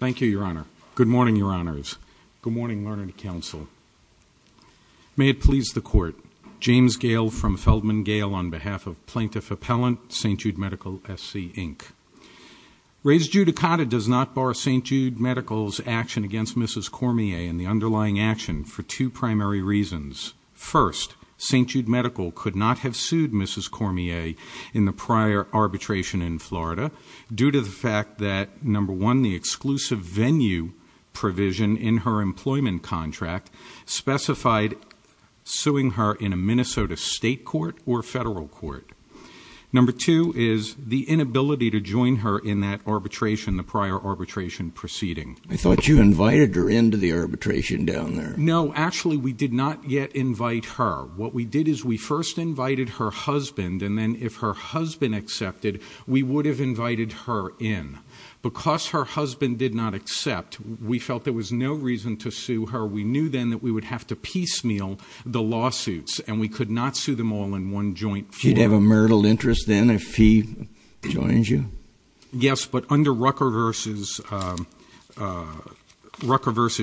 Thank you, Your Honor. Good morning, Your Honors. Good morning, Learned Counsel. May it please the Court, James Gale from Feldman Gale on behalf of Plaintiff Appellant, St. Jude Medical S.C., Inc. Rays Judicata does not bar St. Jude Medical's action against Mrs. Cormier and the underlying action for two primary reasons. First, St. Jude Medical could not have sued Mrs. Cormier in the prior arbitration in Florida due to the fact that, number one, the exclusive venue provision in her employment contract specified suing her in a Minnesota state court or federal court. Number two is the inability to join her in that arbitration, the prior arbitration proceeding. I thought you invited her into the arbitration down there. No, actually we did not yet invite her. What we did is we first invited her husband, and then if her husband accepted, we would have invited her in. Because her husband did not accept, we felt there was no reason to sue her. We knew then that we would have to piecemeal the lawsuits, and we could not sue them all in one joint. She'd have a marital interest then if he joins you? Yes, but under Rucker v.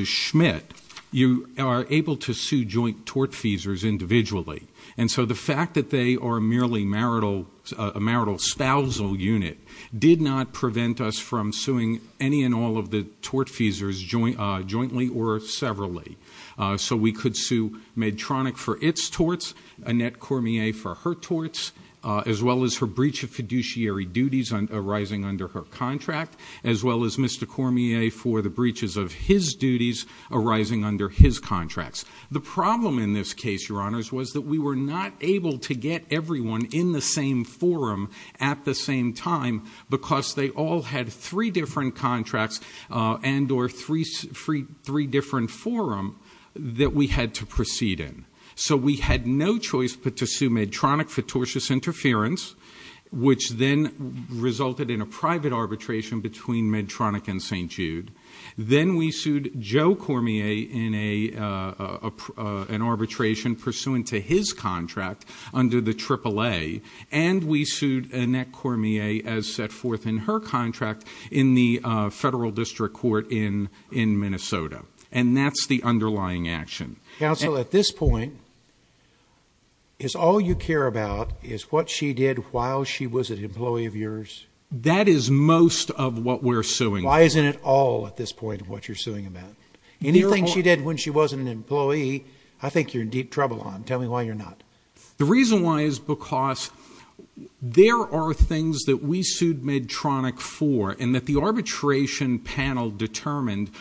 Schmidt, you are able to sue joint tortfeasors individually. And so the fact that they are merely a marital spousal unit did not prevent us from suing any and all of the tortfeasors jointly or severally. So we could sue Medtronic for its torts, Annette Cormier for her torts, as well as her breach of fiduciary duties arising under her contract, as well as Mr. Cormier for the breaches of his duties arising under his contracts. The problem in this case, Your Honors, was that we were not able to get everyone in the same forum at the same time, because they all had three different contracts and or three different forum that we had to proceed in. So we had no choice but to sue Medtronic for tortious interference, which then resulted in a private arbitration between Medtronic and St. Jude. Then we sued Joe Cormier in an arbitration pursuant to his contract under the AAA, and we sued Annette Cormier as set forth in her contract in the federal district court in Minnesota. And that's the underlying action. Counsel, at this point, is all you care about is what she did while she was an employee of yours? That is most of what we're suing. Why isn't it all at this point what you're suing about? Anything she did when she wasn't an employee, I think you're in deep trouble on. Tell me why you're not. The reason why is because there are things that we sued Medtronic for and that the arbitration panel determined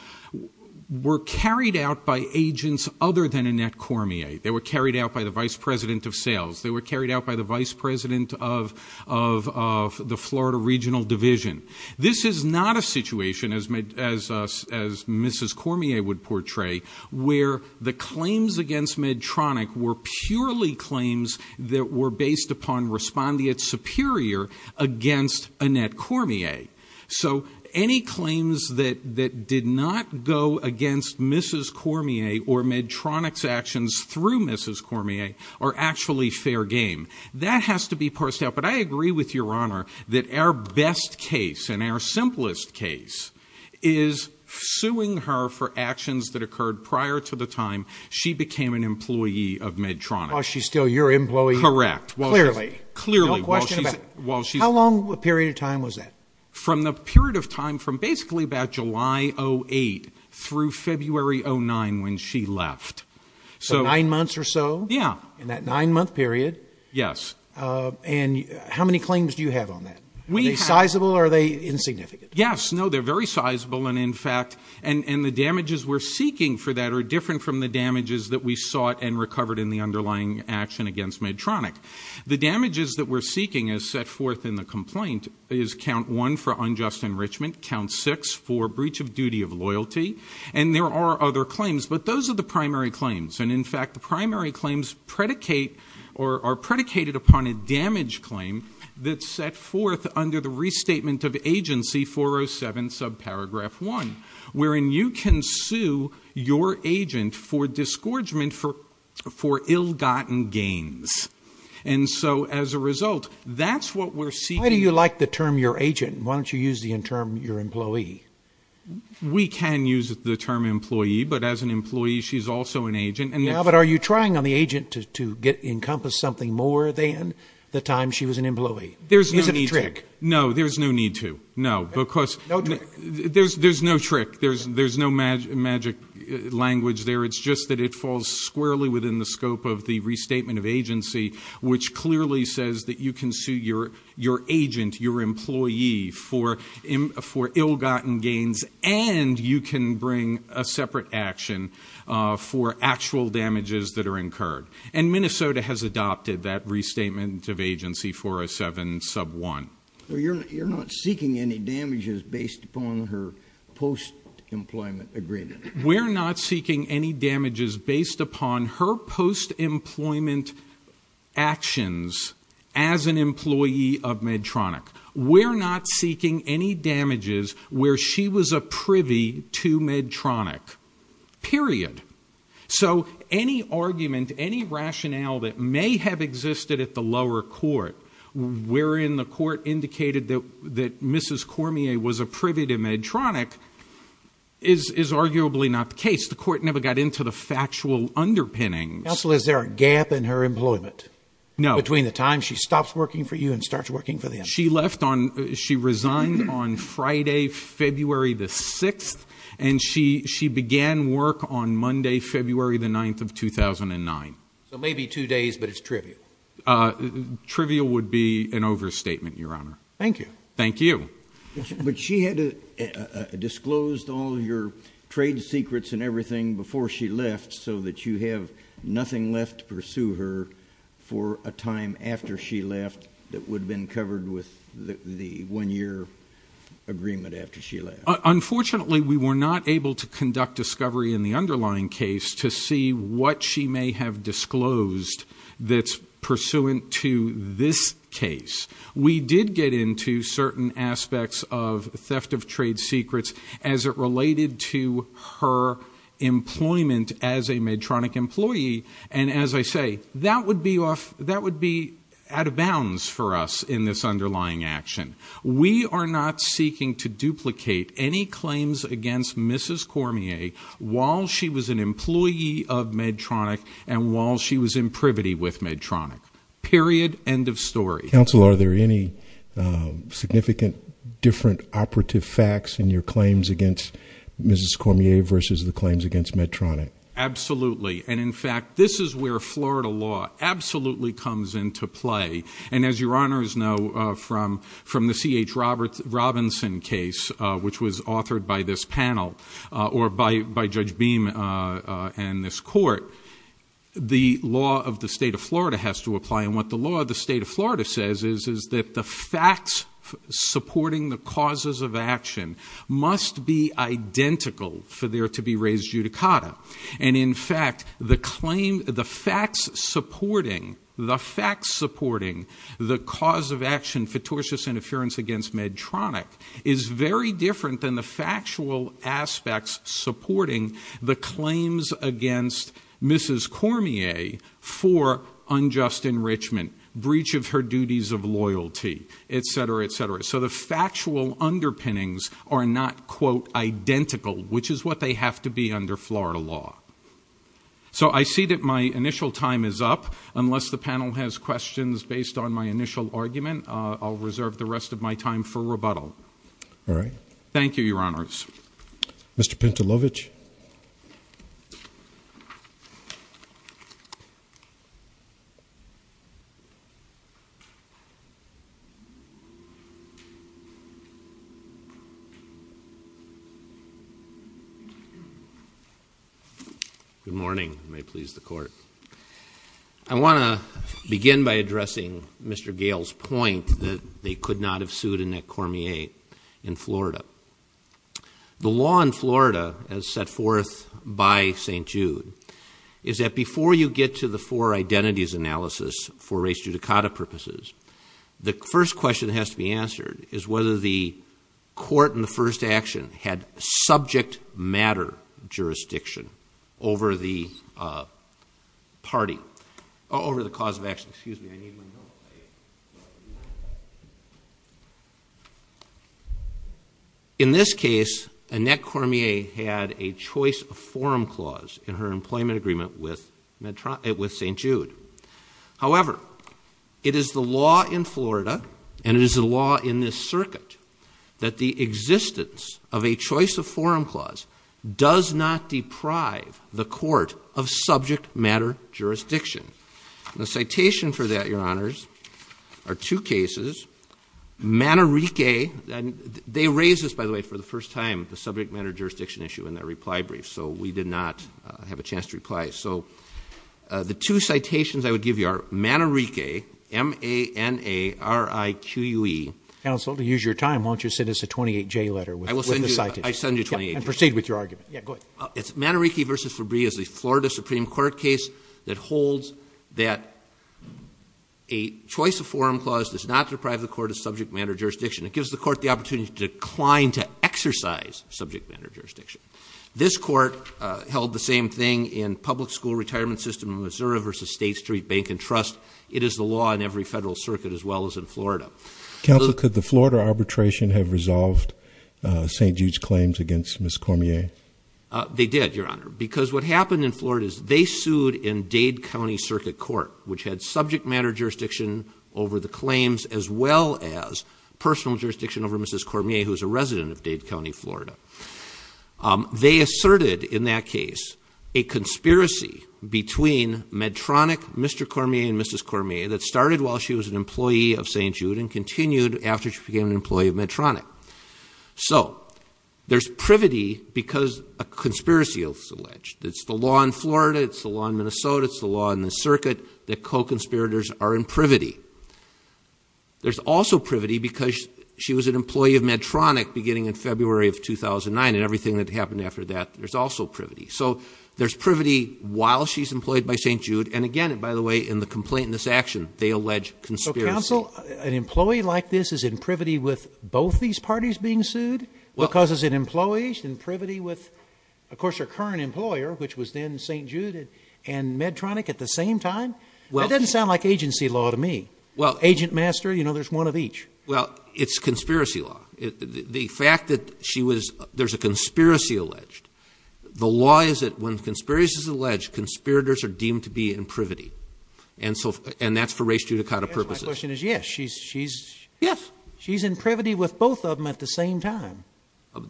were carried out by agents other than Annette Cormier. They were carried out by the vice president of sales. They were carried out by the vice president of the Florida Regional Division. This is not a situation, as Mrs. Cormier would portray, where the claims against Medtronic were purely claims that were based upon respondeat superior against Annette Cormier. So any claims that did not go against Mrs. Cormier or Medtronic's actions through Mrs. Cormier are actually fair game. That has to be parsed out. But I agree with Your Honor that our best case and our simplest case is suing her for actions that occurred prior to the time she became an employee of Medtronic. While she's still your employee? Correct. Clearly. No question about it. How long a period of time was that? From the period of time from basically about July 08 through February 09 when she left. So nine months or so? Yeah. In that nine-month period? Yes. And how many claims do you have on that? Are they sizable or are they insignificant? Yes. No, they're very sizable. And, in fact, the damages we're seeking for that are different from the damages that we sought and recovered in the underlying action against Medtronic. The damages that we're seeking as set forth in the complaint is count one for unjust enrichment, count six for breach of duty of loyalty. And there are other claims. But those are the primary claims. And, in fact, the primary claims predicate or are predicated upon a damage claim that's set forth under the restatement of agency 407 subparagraph 1, wherein you can sue your agent for disgorgement for ill-gotten gains. And so, as a result, that's what we're seeking. Why do you like the term your agent? Why don't you use the term your employee? We can use the term employee. But as an employee, she's also an agent. Yeah, but are you trying on the agent to encompass something more than the time she was an employee? Is it a trick? No, there's no need to. No, because there's no trick. There's no magic language there. It's just that it falls squarely within the scope of the restatement of agency, which clearly says that you can sue your agent, your employee, for ill-gotten gains, and you can bring a separate action for actual damages that are incurred. And Minnesota has adopted that restatement of agency 407 sub1. So you're not seeking any damages based upon her post-employment agreement? We're not seeking any damages based upon her post-employment actions as an employee of Medtronic. We're not seeking any damages where she was a privy to Medtronic, period. So any argument, any rationale that may have existed at the lower court wherein the court indicated that Mrs. Cormier was a privy to Medtronic is arguably not the case. The court never got into the factual underpinnings. Counsel, is there a gap in her employment? No. Between the time she stops working for you and starts working for them? She resigned on Friday, February the 6th, and she began work on Monday, February the 9th of 2009. So maybe two days, but it's trivial. Trivial would be an overstatement, Your Honor. Thank you. Thank you. But she had disclosed all your trade secrets and everything before she left so that you have nothing left to pursue her for a time after she left that would have been covered with the one-year agreement after she left. Unfortunately, we were not able to conduct discovery in the underlying case to see what she may have disclosed that's pursuant to this case. We did get into certain aspects of theft of trade secrets as it related to her employment as a Medtronic employee, and as I say, that would be out of bounds for us in this underlying action. We are not seeking to duplicate any claims against Mrs. Cormier while she was an employee of Medtronic and while she was in privity with Medtronic. Period. End of story. Counsel, are there any significant different operative facts in your claims against Mrs. Cormier versus the claims against Medtronic? Absolutely. And, in fact, this is where Florida law absolutely comes into play. And as your honors know from the C.H. Robinson case, which was authored by this panel or by Judge Beam and this court, the law of the state of Florida has to apply. And what the law of the state of Florida says is that the facts supporting the causes of action must be identical for there to be raised judicata. And, in fact, the facts supporting the cause of action, fictitious interference against Medtronic, is very different than the factual aspects supporting the claims against Mrs. Cormier for unjust enrichment, breach of her duties of loyalty, et cetera, et cetera. So the factual underpinnings are not, quote, identical, which is what they have to be under Florida law. So I see that my initial time is up. Unless the panel has questions based on my initial argument, I'll reserve the rest of my time for rebuttal. All right. Thank you, your honors. Mr. Pentelovich. Good morning. I want to begin by addressing Mr. Gayle's point that they could not have sued Annette Cormier in Florida. The law in Florida, as set forth by St. Jude, is that before you get to the four identities analysis for raised judicata purposes, the first question that has to be answered is whether the court in the first action had subject matter jurisdiction over the party, over the cause of action. Excuse me. In this case, Annette Cormier had a choice of forum clause in her employment agreement with St. Jude. However, it is the law in Florida, and it is the law in this circuit, that the existence of a choice of forum clause does not deprive the court of subject matter jurisdiction. The citation for that, your honors, are two cases. Manerike, they raised this, by the way, for the first time, the subject matter jurisdiction issue in their reply brief, so we did not have a chance to reply. So the two citations I would give you are Manerike, M-A-N-A-R-I-Q-U-E. Counsel, to use your time, why don't you send us a 28-J letter with the citation. I will send you 28-J. And proceed with your argument. Yeah, go ahead. Manerike v. Fabree is a Florida Supreme Court case that holds that a choice of forum clause does not deprive the court of subject matter jurisdiction. It gives the court the opportunity to decline to exercise subject matter jurisdiction. This court held the same thing in public school retirement system in Missouri v. State Street Bank and Trust. It is the law in every federal circuit, as well as in Florida. Counsel, could the Florida arbitration have resolved St. Jude's claims against Ms. Cormier? They did, Your Honor, because what happened in Florida is they sued in Dade County Circuit Court, which had subject matter jurisdiction over the claims, as well as personal jurisdiction over Mrs. Cormier, who is a resident of Dade County, Florida. They asserted in that case a conspiracy between Medtronic, Mr. Cormier, and Mrs. Cormier, that started while she was an employee of St. Jude and continued after she became an employee of Medtronic. So there's privity because a conspiracy is alleged. It's the law in Florida. It's the law in Minnesota. It's the law in the circuit that co-conspirators are in privity. There's also privity because she was an employee of Medtronic beginning in February of 2009, and everything that happened after that, there's also privity. So there's privity while she's employed by St. Jude. And again, by the way, in the complaint in this action, they allege conspiracy. Counsel, an employee like this is in privity with both these parties being sued? Because as an employee, she's in privity with, of course, her current employer, which was then St. Jude and Medtronic at the same time? That doesn't sound like agency law to me. Agent master, you know, there's one of each. Well, it's conspiracy law. The fact that she was – there's a conspiracy alleged. The law is that when conspiracy is alleged, conspirators are deemed to be in privity, and that's for race judicata purposes. The conclusion is, yes, she's in privity with both of them at the same time.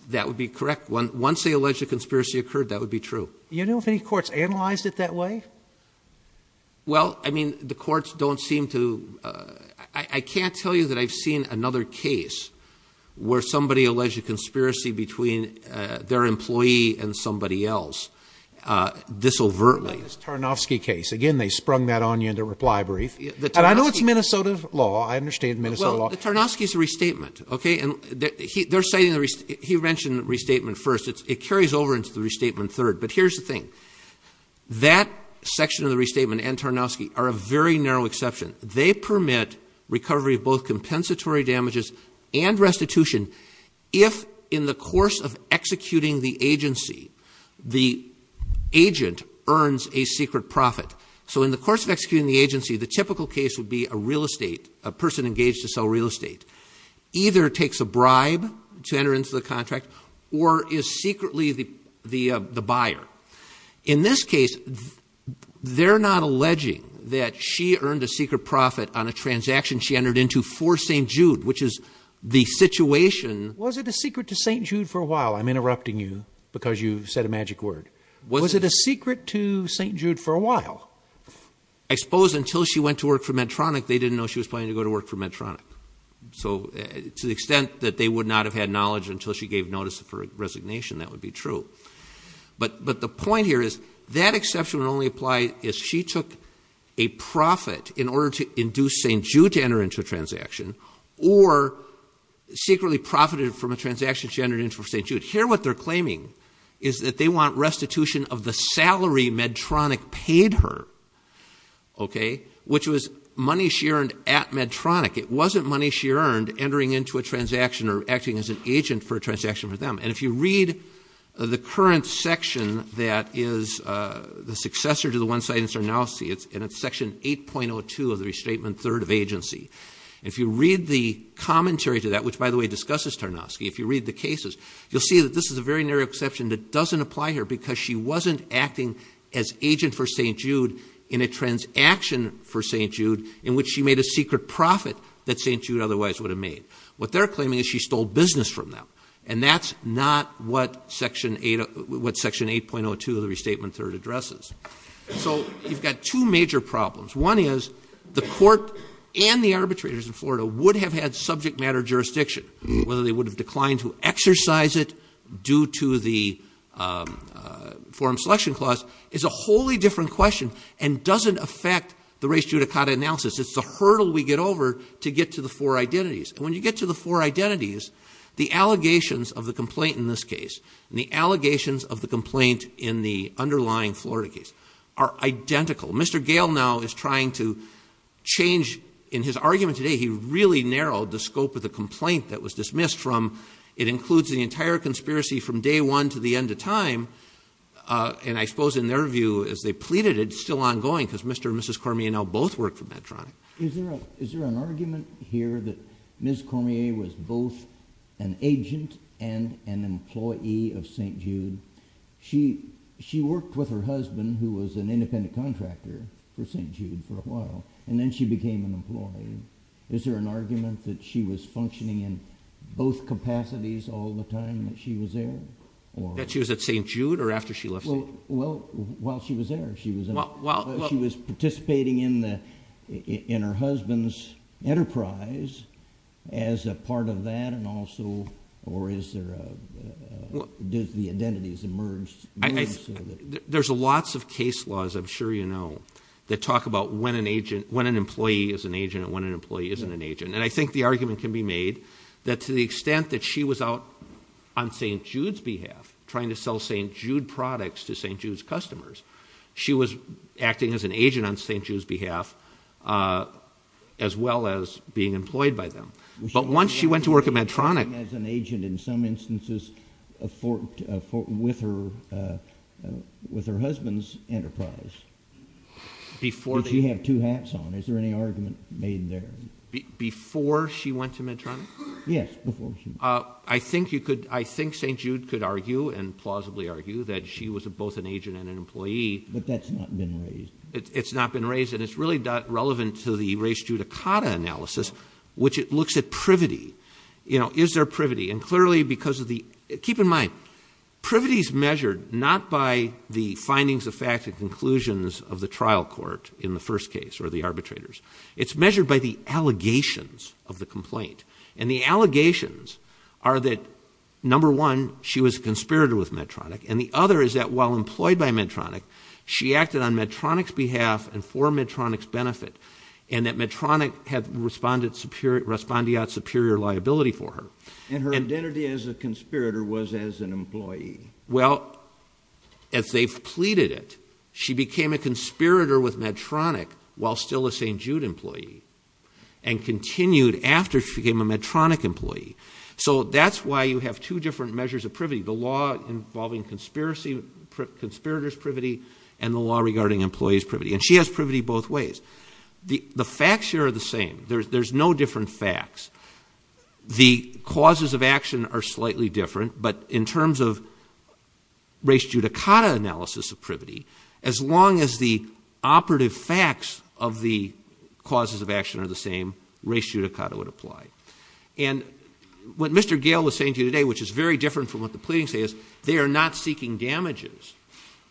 That would be correct. Once the alleged conspiracy occurred, that would be true. Do you know if any courts analyzed it that way? Well, I mean, the courts don't seem to – I can't tell you that I've seen another case where somebody alleged a conspiracy between their employee and somebody else this overtly. The Tarnovsky case. Again, they sprung that on you in the reply brief. And I know it's Minnesota law. I understand Minnesota law. Well, the Tarnovsky's a restatement, okay? And they're citing – he mentioned restatement first. It carries over into the restatement third. But here's the thing. That section of the restatement and Tarnovsky are a very narrow exception. They permit recovery of both compensatory damages and restitution if, in the course of executing the agency, the agent earns a secret profit. So in the course of executing the agency, the typical case would be a real estate – a person engaged to sell real estate either takes a bribe to enter into the contract or is secretly the buyer. In this case, they're not alleging that she earned a secret profit on a transaction she entered into for St. Jude, which is the situation – Was it a secret to St. Jude for a while? I'm interrupting you because you said a magic word. Was it a secret to St. Jude for a while? I suppose until she went to work for Medtronic, they didn't know she was planning to go to work for Medtronic. So to the extent that they would not have had knowledge until she gave notice of her resignation, that would be true. But the point here is that exception would only apply if she took a profit in order to induce St. Jude to enter into a transaction or secretly profited from a transaction she entered into for St. Jude. Here what they're claiming is that they want restitution of the salary Medtronic paid her, okay, which was money she earned at Medtronic. It wasn't money she earned entering into a transaction or acting as an agent for a transaction for them. And if you read the current section that is the successor to the one cited in Starnowski, and it's section 8.02 of the Restatement Third of Agency. If you read the commentary to that, which by the way discusses Starnowski, if you read the cases, you'll see that this is a very narrow exception that doesn't apply here because she wasn't acting as agent for St. Jude in a transaction for St. Jude in which she made a secret profit that St. Jude otherwise would have made. What they're claiming is she stole business from them. And that's not what section 8.02 of the Restatement Third addresses. So you've got two major problems. One is the court and the arbitrators in Florida would have had subject matter jurisdiction. Whether they would have declined to exercise it due to the forum selection clause is a wholly different question and doesn't affect the res judicata analysis. It's a hurdle we get over to get to the four identities. And when you get to the four identities, the allegations of the complaint in this case and the allegations of the complaint in the underlying Florida case are identical. Mr. Gale now is trying to change. In his argument today, he really narrowed the scope of the complaint that was dismissed from it includes the entire conspiracy from day one to the end of time. And I suppose in their view, as they pleaded, it's still ongoing because Mr. and Mrs. Cormier now both work for Medtronic. Is there an argument here that Ms. Cormier was both an agent and an employee of St. Jude? She worked with her husband, who was an independent contractor for St. Jude for a while, and then she became an employee. Is there an argument that she was functioning in both capacities all the time that she was there? That she was at St. Jude or after she left? Well, while she was there, she was participating in her husband's enterprise as a part of that and also, or is there a, did the identities emerge? There's lots of case laws, I'm sure you know, that talk about when an agent, when an employee is an agent and when an employee isn't an agent. And I think the argument can be made that to the extent that she was out on St. Jude's behalf, trying to sell St. Jude products to St. Jude's customers, she was acting as an agent on St. Jude's behalf as well as being employed by them. But once she went to work at Medtronic... She was acting as an agent in some instances with her husband's enterprise. Did she have two hats on? Is there any argument made there? Before she went to Medtronic? Yes, before she went. I think you could, I think St. Jude could argue and plausibly argue that she was both an agent and an employee. But that's not been raised. It's not been raised and it's really not relevant to the race judicata analysis, which it looks at privity. Is there privity? And clearly because of the... Keep in mind, privity is measured not by the findings of fact and conclusions of the trial court in the first case or the arbitrators. It's measured by the allegations of the complaint. And the allegations are that, number one, she was a conspirator with Medtronic. And the other is that while employed by Medtronic, she acted on Medtronic's behalf and for Medtronic's benefit. And that Medtronic had respondeat superior liability for her. And her identity as a conspirator was as an employee. Well, as they've pleaded it, she became a conspirator with Medtronic while still a St. Jude employee. And continued after she became a Medtronic employee. So that's why you have two different measures of privity. The law involving conspirators' privity and the law regarding employees' privity. And she has privity both ways. The facts here are the same. There's no different facts. The causes of action are slightly different. But in terms of res judicata analysis of privity, as long as the operative facts of the causes of action are the same, res judicata would apply. And what Mr. Gale was saying to you today, which is very different from what the pleadings say, is they are not seeking damages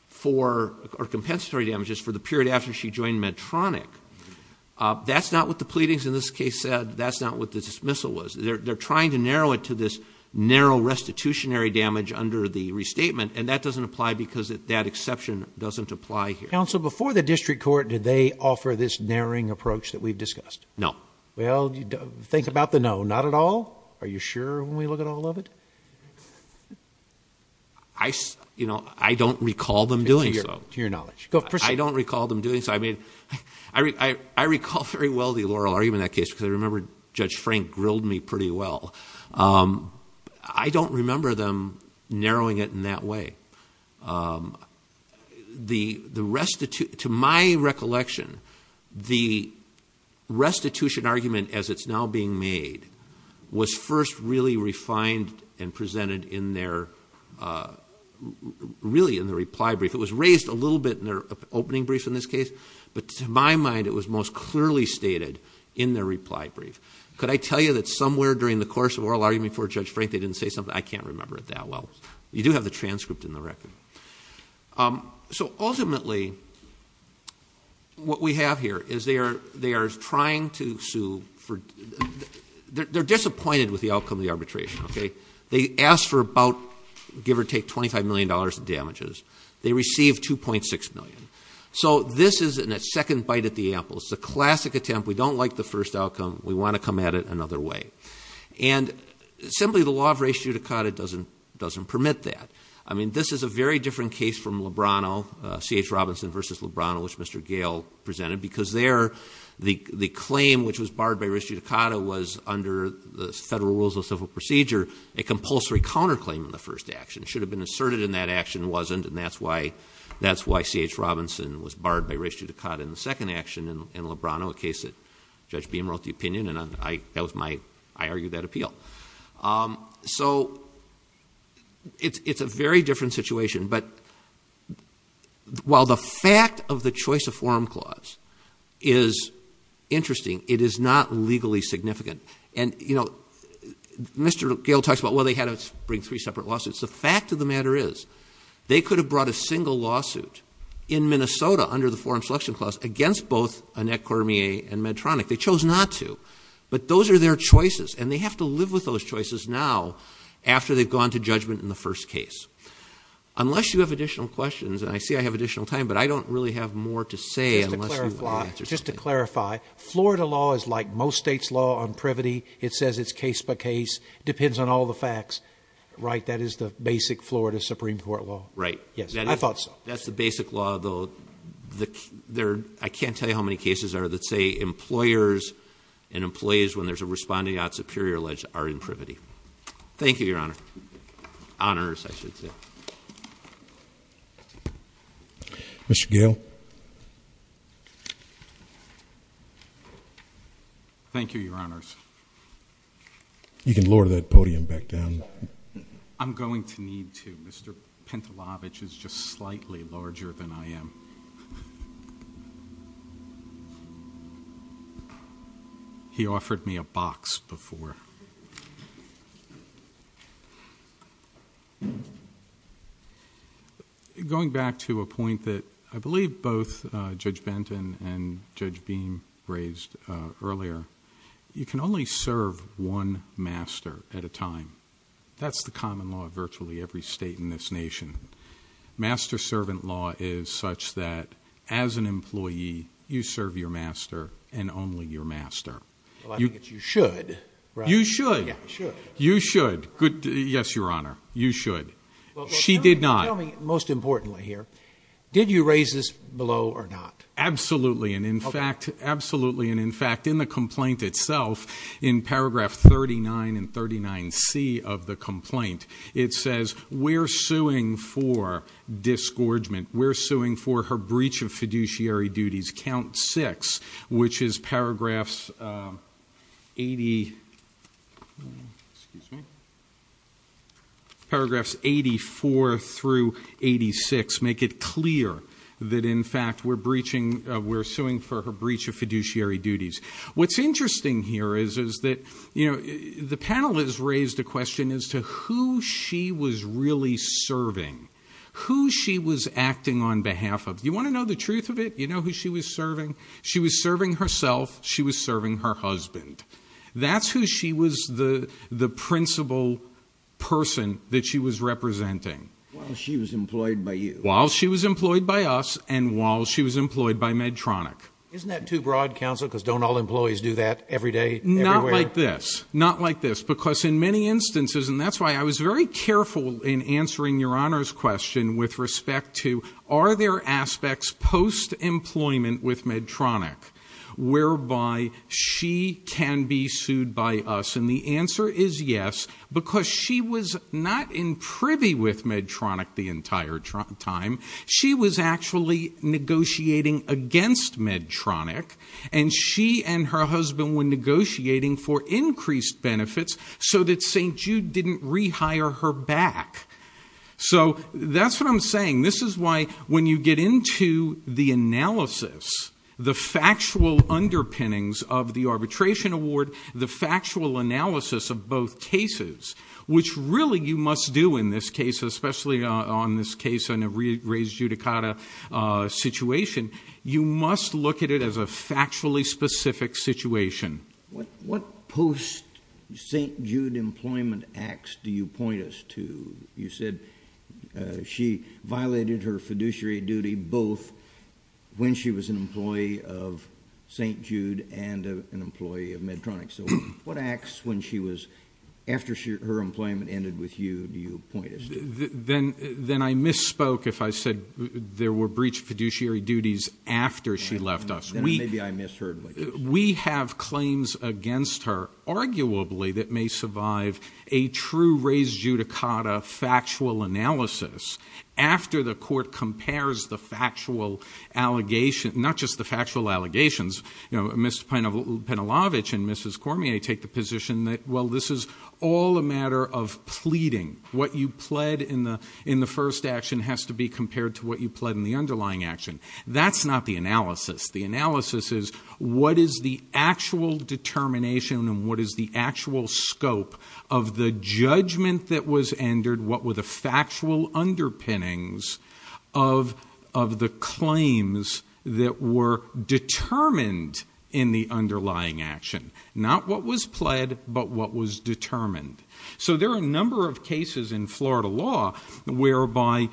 for, or compensatory damages, for the period after she joined Medtronic. That's not what the pleadings in this case said. That's not what the dismissal was. They're trying to narrow it to this narrow restitutionary damage under the restatement. And that doesn't apply because that exception doesn't apply here. Counsel, before the district court, did they offer this narrowing approach that we've discussed? No. Well, think about the no. Not at all? Are you sure when we look at all of it? I don't recall them doing so. To your knowledge. I don't recall them doing so. I mean, I recall very well the oral argument in that case because I remember Judge Frank grilled me pretty well. I don't remember them narrowing it in that way. To my recollection, the restitution argument, as it's now being made, was first really refined and presented in their reply brief. It was raised a little bit in their opening brief in this case, but to my mind it was most clearly stated in their reply brief. Could I tell you that somewhere during the course of oral argument before Judge Frank they didn't say something? I can't remember it that well. You do have the transcript in the record. So ultimately what we have here is they are trying to sue. They're disappointed with the outcome of the arbitration. They asked for about, give or take, $25 million in damages. They received $2.6 million. So this is a second bite at the apple. It's a classic attempt. We don't like the first outcome. We want to come at it another way. And simply the law of res judicata doesn't permit that. I mean, this is a very different case from Lebrano, C.H. Robinson v. Lebrano, which Mr. Gale presented, because there the claim, which was barred by res judicata, was under the Federal Rules of Civil Procedure a compulsory counterclaim in the first action. It should have been asserted in that action. It wasn't, and that's why C.H. Robinson was barred by res judicata in the second action in Lebrano, a case that Judge Beam wrote the opinion. And that was my, I argue, that appeal. So it's a very different situation. But while the fact of the choice of forum clause is interesting, it is not legally significant. And, you know, Mr. Gale talks about, well, they had to bring three separate lawsuits. The fact of the matter is they could have brought a single lawsuit in Minnesota under the forum selection clause against both Annette Cormier and Medtronic. They chose not to. But those are their choices, and they have to live with those choices now after they've gone to judgment in the first case. Unless you have additional questions, and I see I have additional time, but I don't really have more to say unless you want to answer something. Just to clarify, Florida law is like most states' law on privity. It says it's case by case. It depends on all the facts. Right? That is the basic Florida Supreme Court law. Right. Yes. I thought so. That's the basic law, though. I can't tell you how many cases are that say employers and employees, when there's a responding out superior alleged, are in privity. Thank you, Your Honor. Honors, I should say. Mr. Gale. Thank you, Your Honors. You can lower that podium back down. I'm going to need to. Mr. Pentelovich is just slightly larger than I am. He offered me a box before. Going back to a point that I believe both Judge Benton and Judge Beam raised earlier, you can only serve one master at a time. That's the common law of virtually every state in this nation. Master-servant law is such that, as an employee, you serve your master and only your master. Well, I think it's you should. You should. You should. Yes, Your Honor. You should. She did not. Tell me, most importantly here, did you raise this below or not? Absolutely. And in fact, in the complaint itself, in paragraph 39 and 39C of the complaint, it says, we're suing for disgorgement. We're suing for her breach of fiduciary duties. Count six, which is paragraphs 84 through 86, make it clear that, in fact, we're suing for her breach of fiduciary duties. What's interesting here is that the panel has raised a question as to who she was really serving, who she was acting on behalf of. You want to know the truth of it? You know who she was serving? She was serving herself. She was serving her husband. That's who she was, the principal person that she was representing. While she was employed by you. While she was employed by us and while she was employed by Medtronic. Isn't that too broad, Counsel, because don't all employees do that every day? Not like this. Not like this. Because in many instances, and that's why I was very careful in answering Your Honor's question with respect to are there aspects post-employment with Medtronic whereby she can be sued by us? And the answer is yes, because she was not in privy with Medtronic the entire time. She was actually negotiating against Medtronic, and she and her husband were negotiating for increased benefits so that St. Jude didn't rehire her back. So that's what I'm saying. This is why when you get into the analysis, the factual underpinnings of the arbitration award, the factual analysis of both cases, which really you must do in this case, especially on this case in a re-raised judicata situation, you must look at it as a factually specific situation. What post-St. Jude employment acts do you point us to? You said she violated her fiduciary duty both when she was an employee of St. Jude and an employee of Medtronic. So what acts when she was, after her employment ended with you, do you point us to? Then I misspoke if I said there were breach of fiduciary duties after she left us. Then maybe I misheard what you said. We have claims against her, arguably, that may survive a true re-raised judicata factual analysis after the court compares the factual allegations, not just the factual allegations, Mr. Penelovic and Mrs. Cormier take the position that, well, this is all a matter of pleading. What you pled in the first action has to be compared to what you pled in the underlying action. That's not the analysis. The analysis is what is the actual determination and what is the actual scope of the judgment that was entered, what were the factual underpinnings of the claims that were determined in the underlying action? Not what was pled, but what was determined. So there are a number of cases in Florida law whereby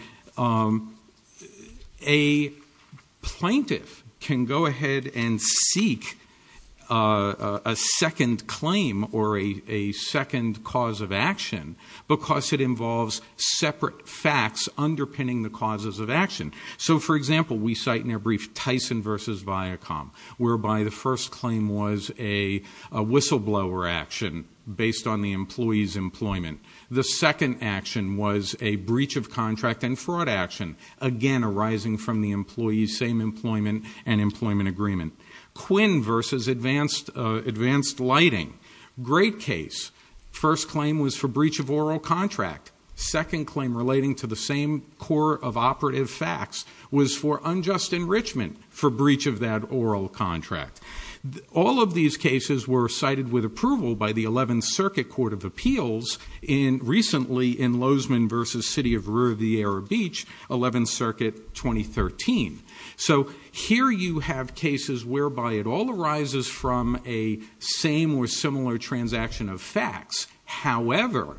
a plaintiff can go ahead and seek a second claim or a second cause of action because it involves separate facts underpinning the causes of action. So, for example, we cite in our brief Tyson v. Viacom, whereby the first claim was a whistleblower action based on the employee's employment. The second action was a breach of contract and fraud action, again arising from the employee's same employment and employment agreement. Quinn v. Advanced Lighting, great case. First claim was for breach of oral contract. Second claim relating to the same core of operative facts was for unjust enrichment for breach of that oral contract. All of these cases were cited with approval by the 11th Circuit Court of Appeals recently in Lozman v. City of Rua de Ara Beach, 11th Circuit, 2013. So here you have cases whereby it all arises from a same or similar transaction of facts. However,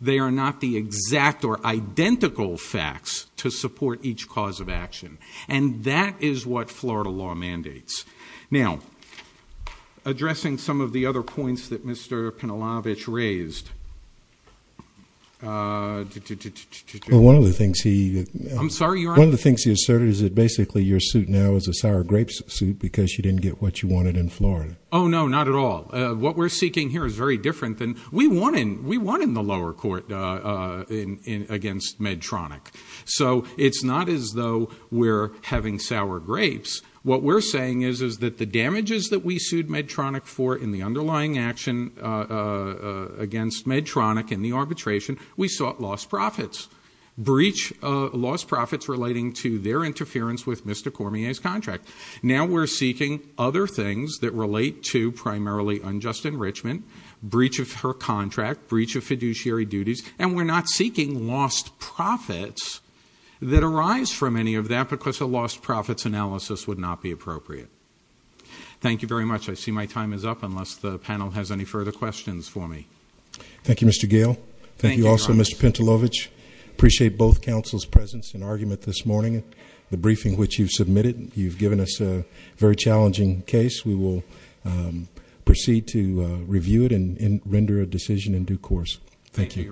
they are not the exact or identical facts to support each cause of action, and that is what Florida law mandates. Now, addressing some of the other points that Mr. Penalovich raised. One of the things he asserted is that basically your suit now is a sour grapes suit because you didn't get what you wanted in Florida. Oh, no, not at all. What we're seeking here is very different than we want in the lower court against Medtronic. So it's not as though we're having sour grapes. What we're saying is that the damages that we sued Medtronic for in the underlying action against Medtronic in the arbitration, we sought lost profits. Breach lost profits relating to their interference with Mr. Cormier's contract. Now we're seeking other things that relate to primarily unjust enrichment, breach of her contract, breach of fiduciary duties, and we're not seeking lost profits that arise from any of that because a lost profits analysis would not be appropriate. Thank you very much. I see my time is up unless the panel has any further questions for me. Thank you, Mr. Gale. Thank you also, Mr. Penalovich. Appreciate both counsel's presence and argument this morning. The briefing which you submitted, you've given us a very challenging case. We will proceed to review it and render a decision in due course. Thank you.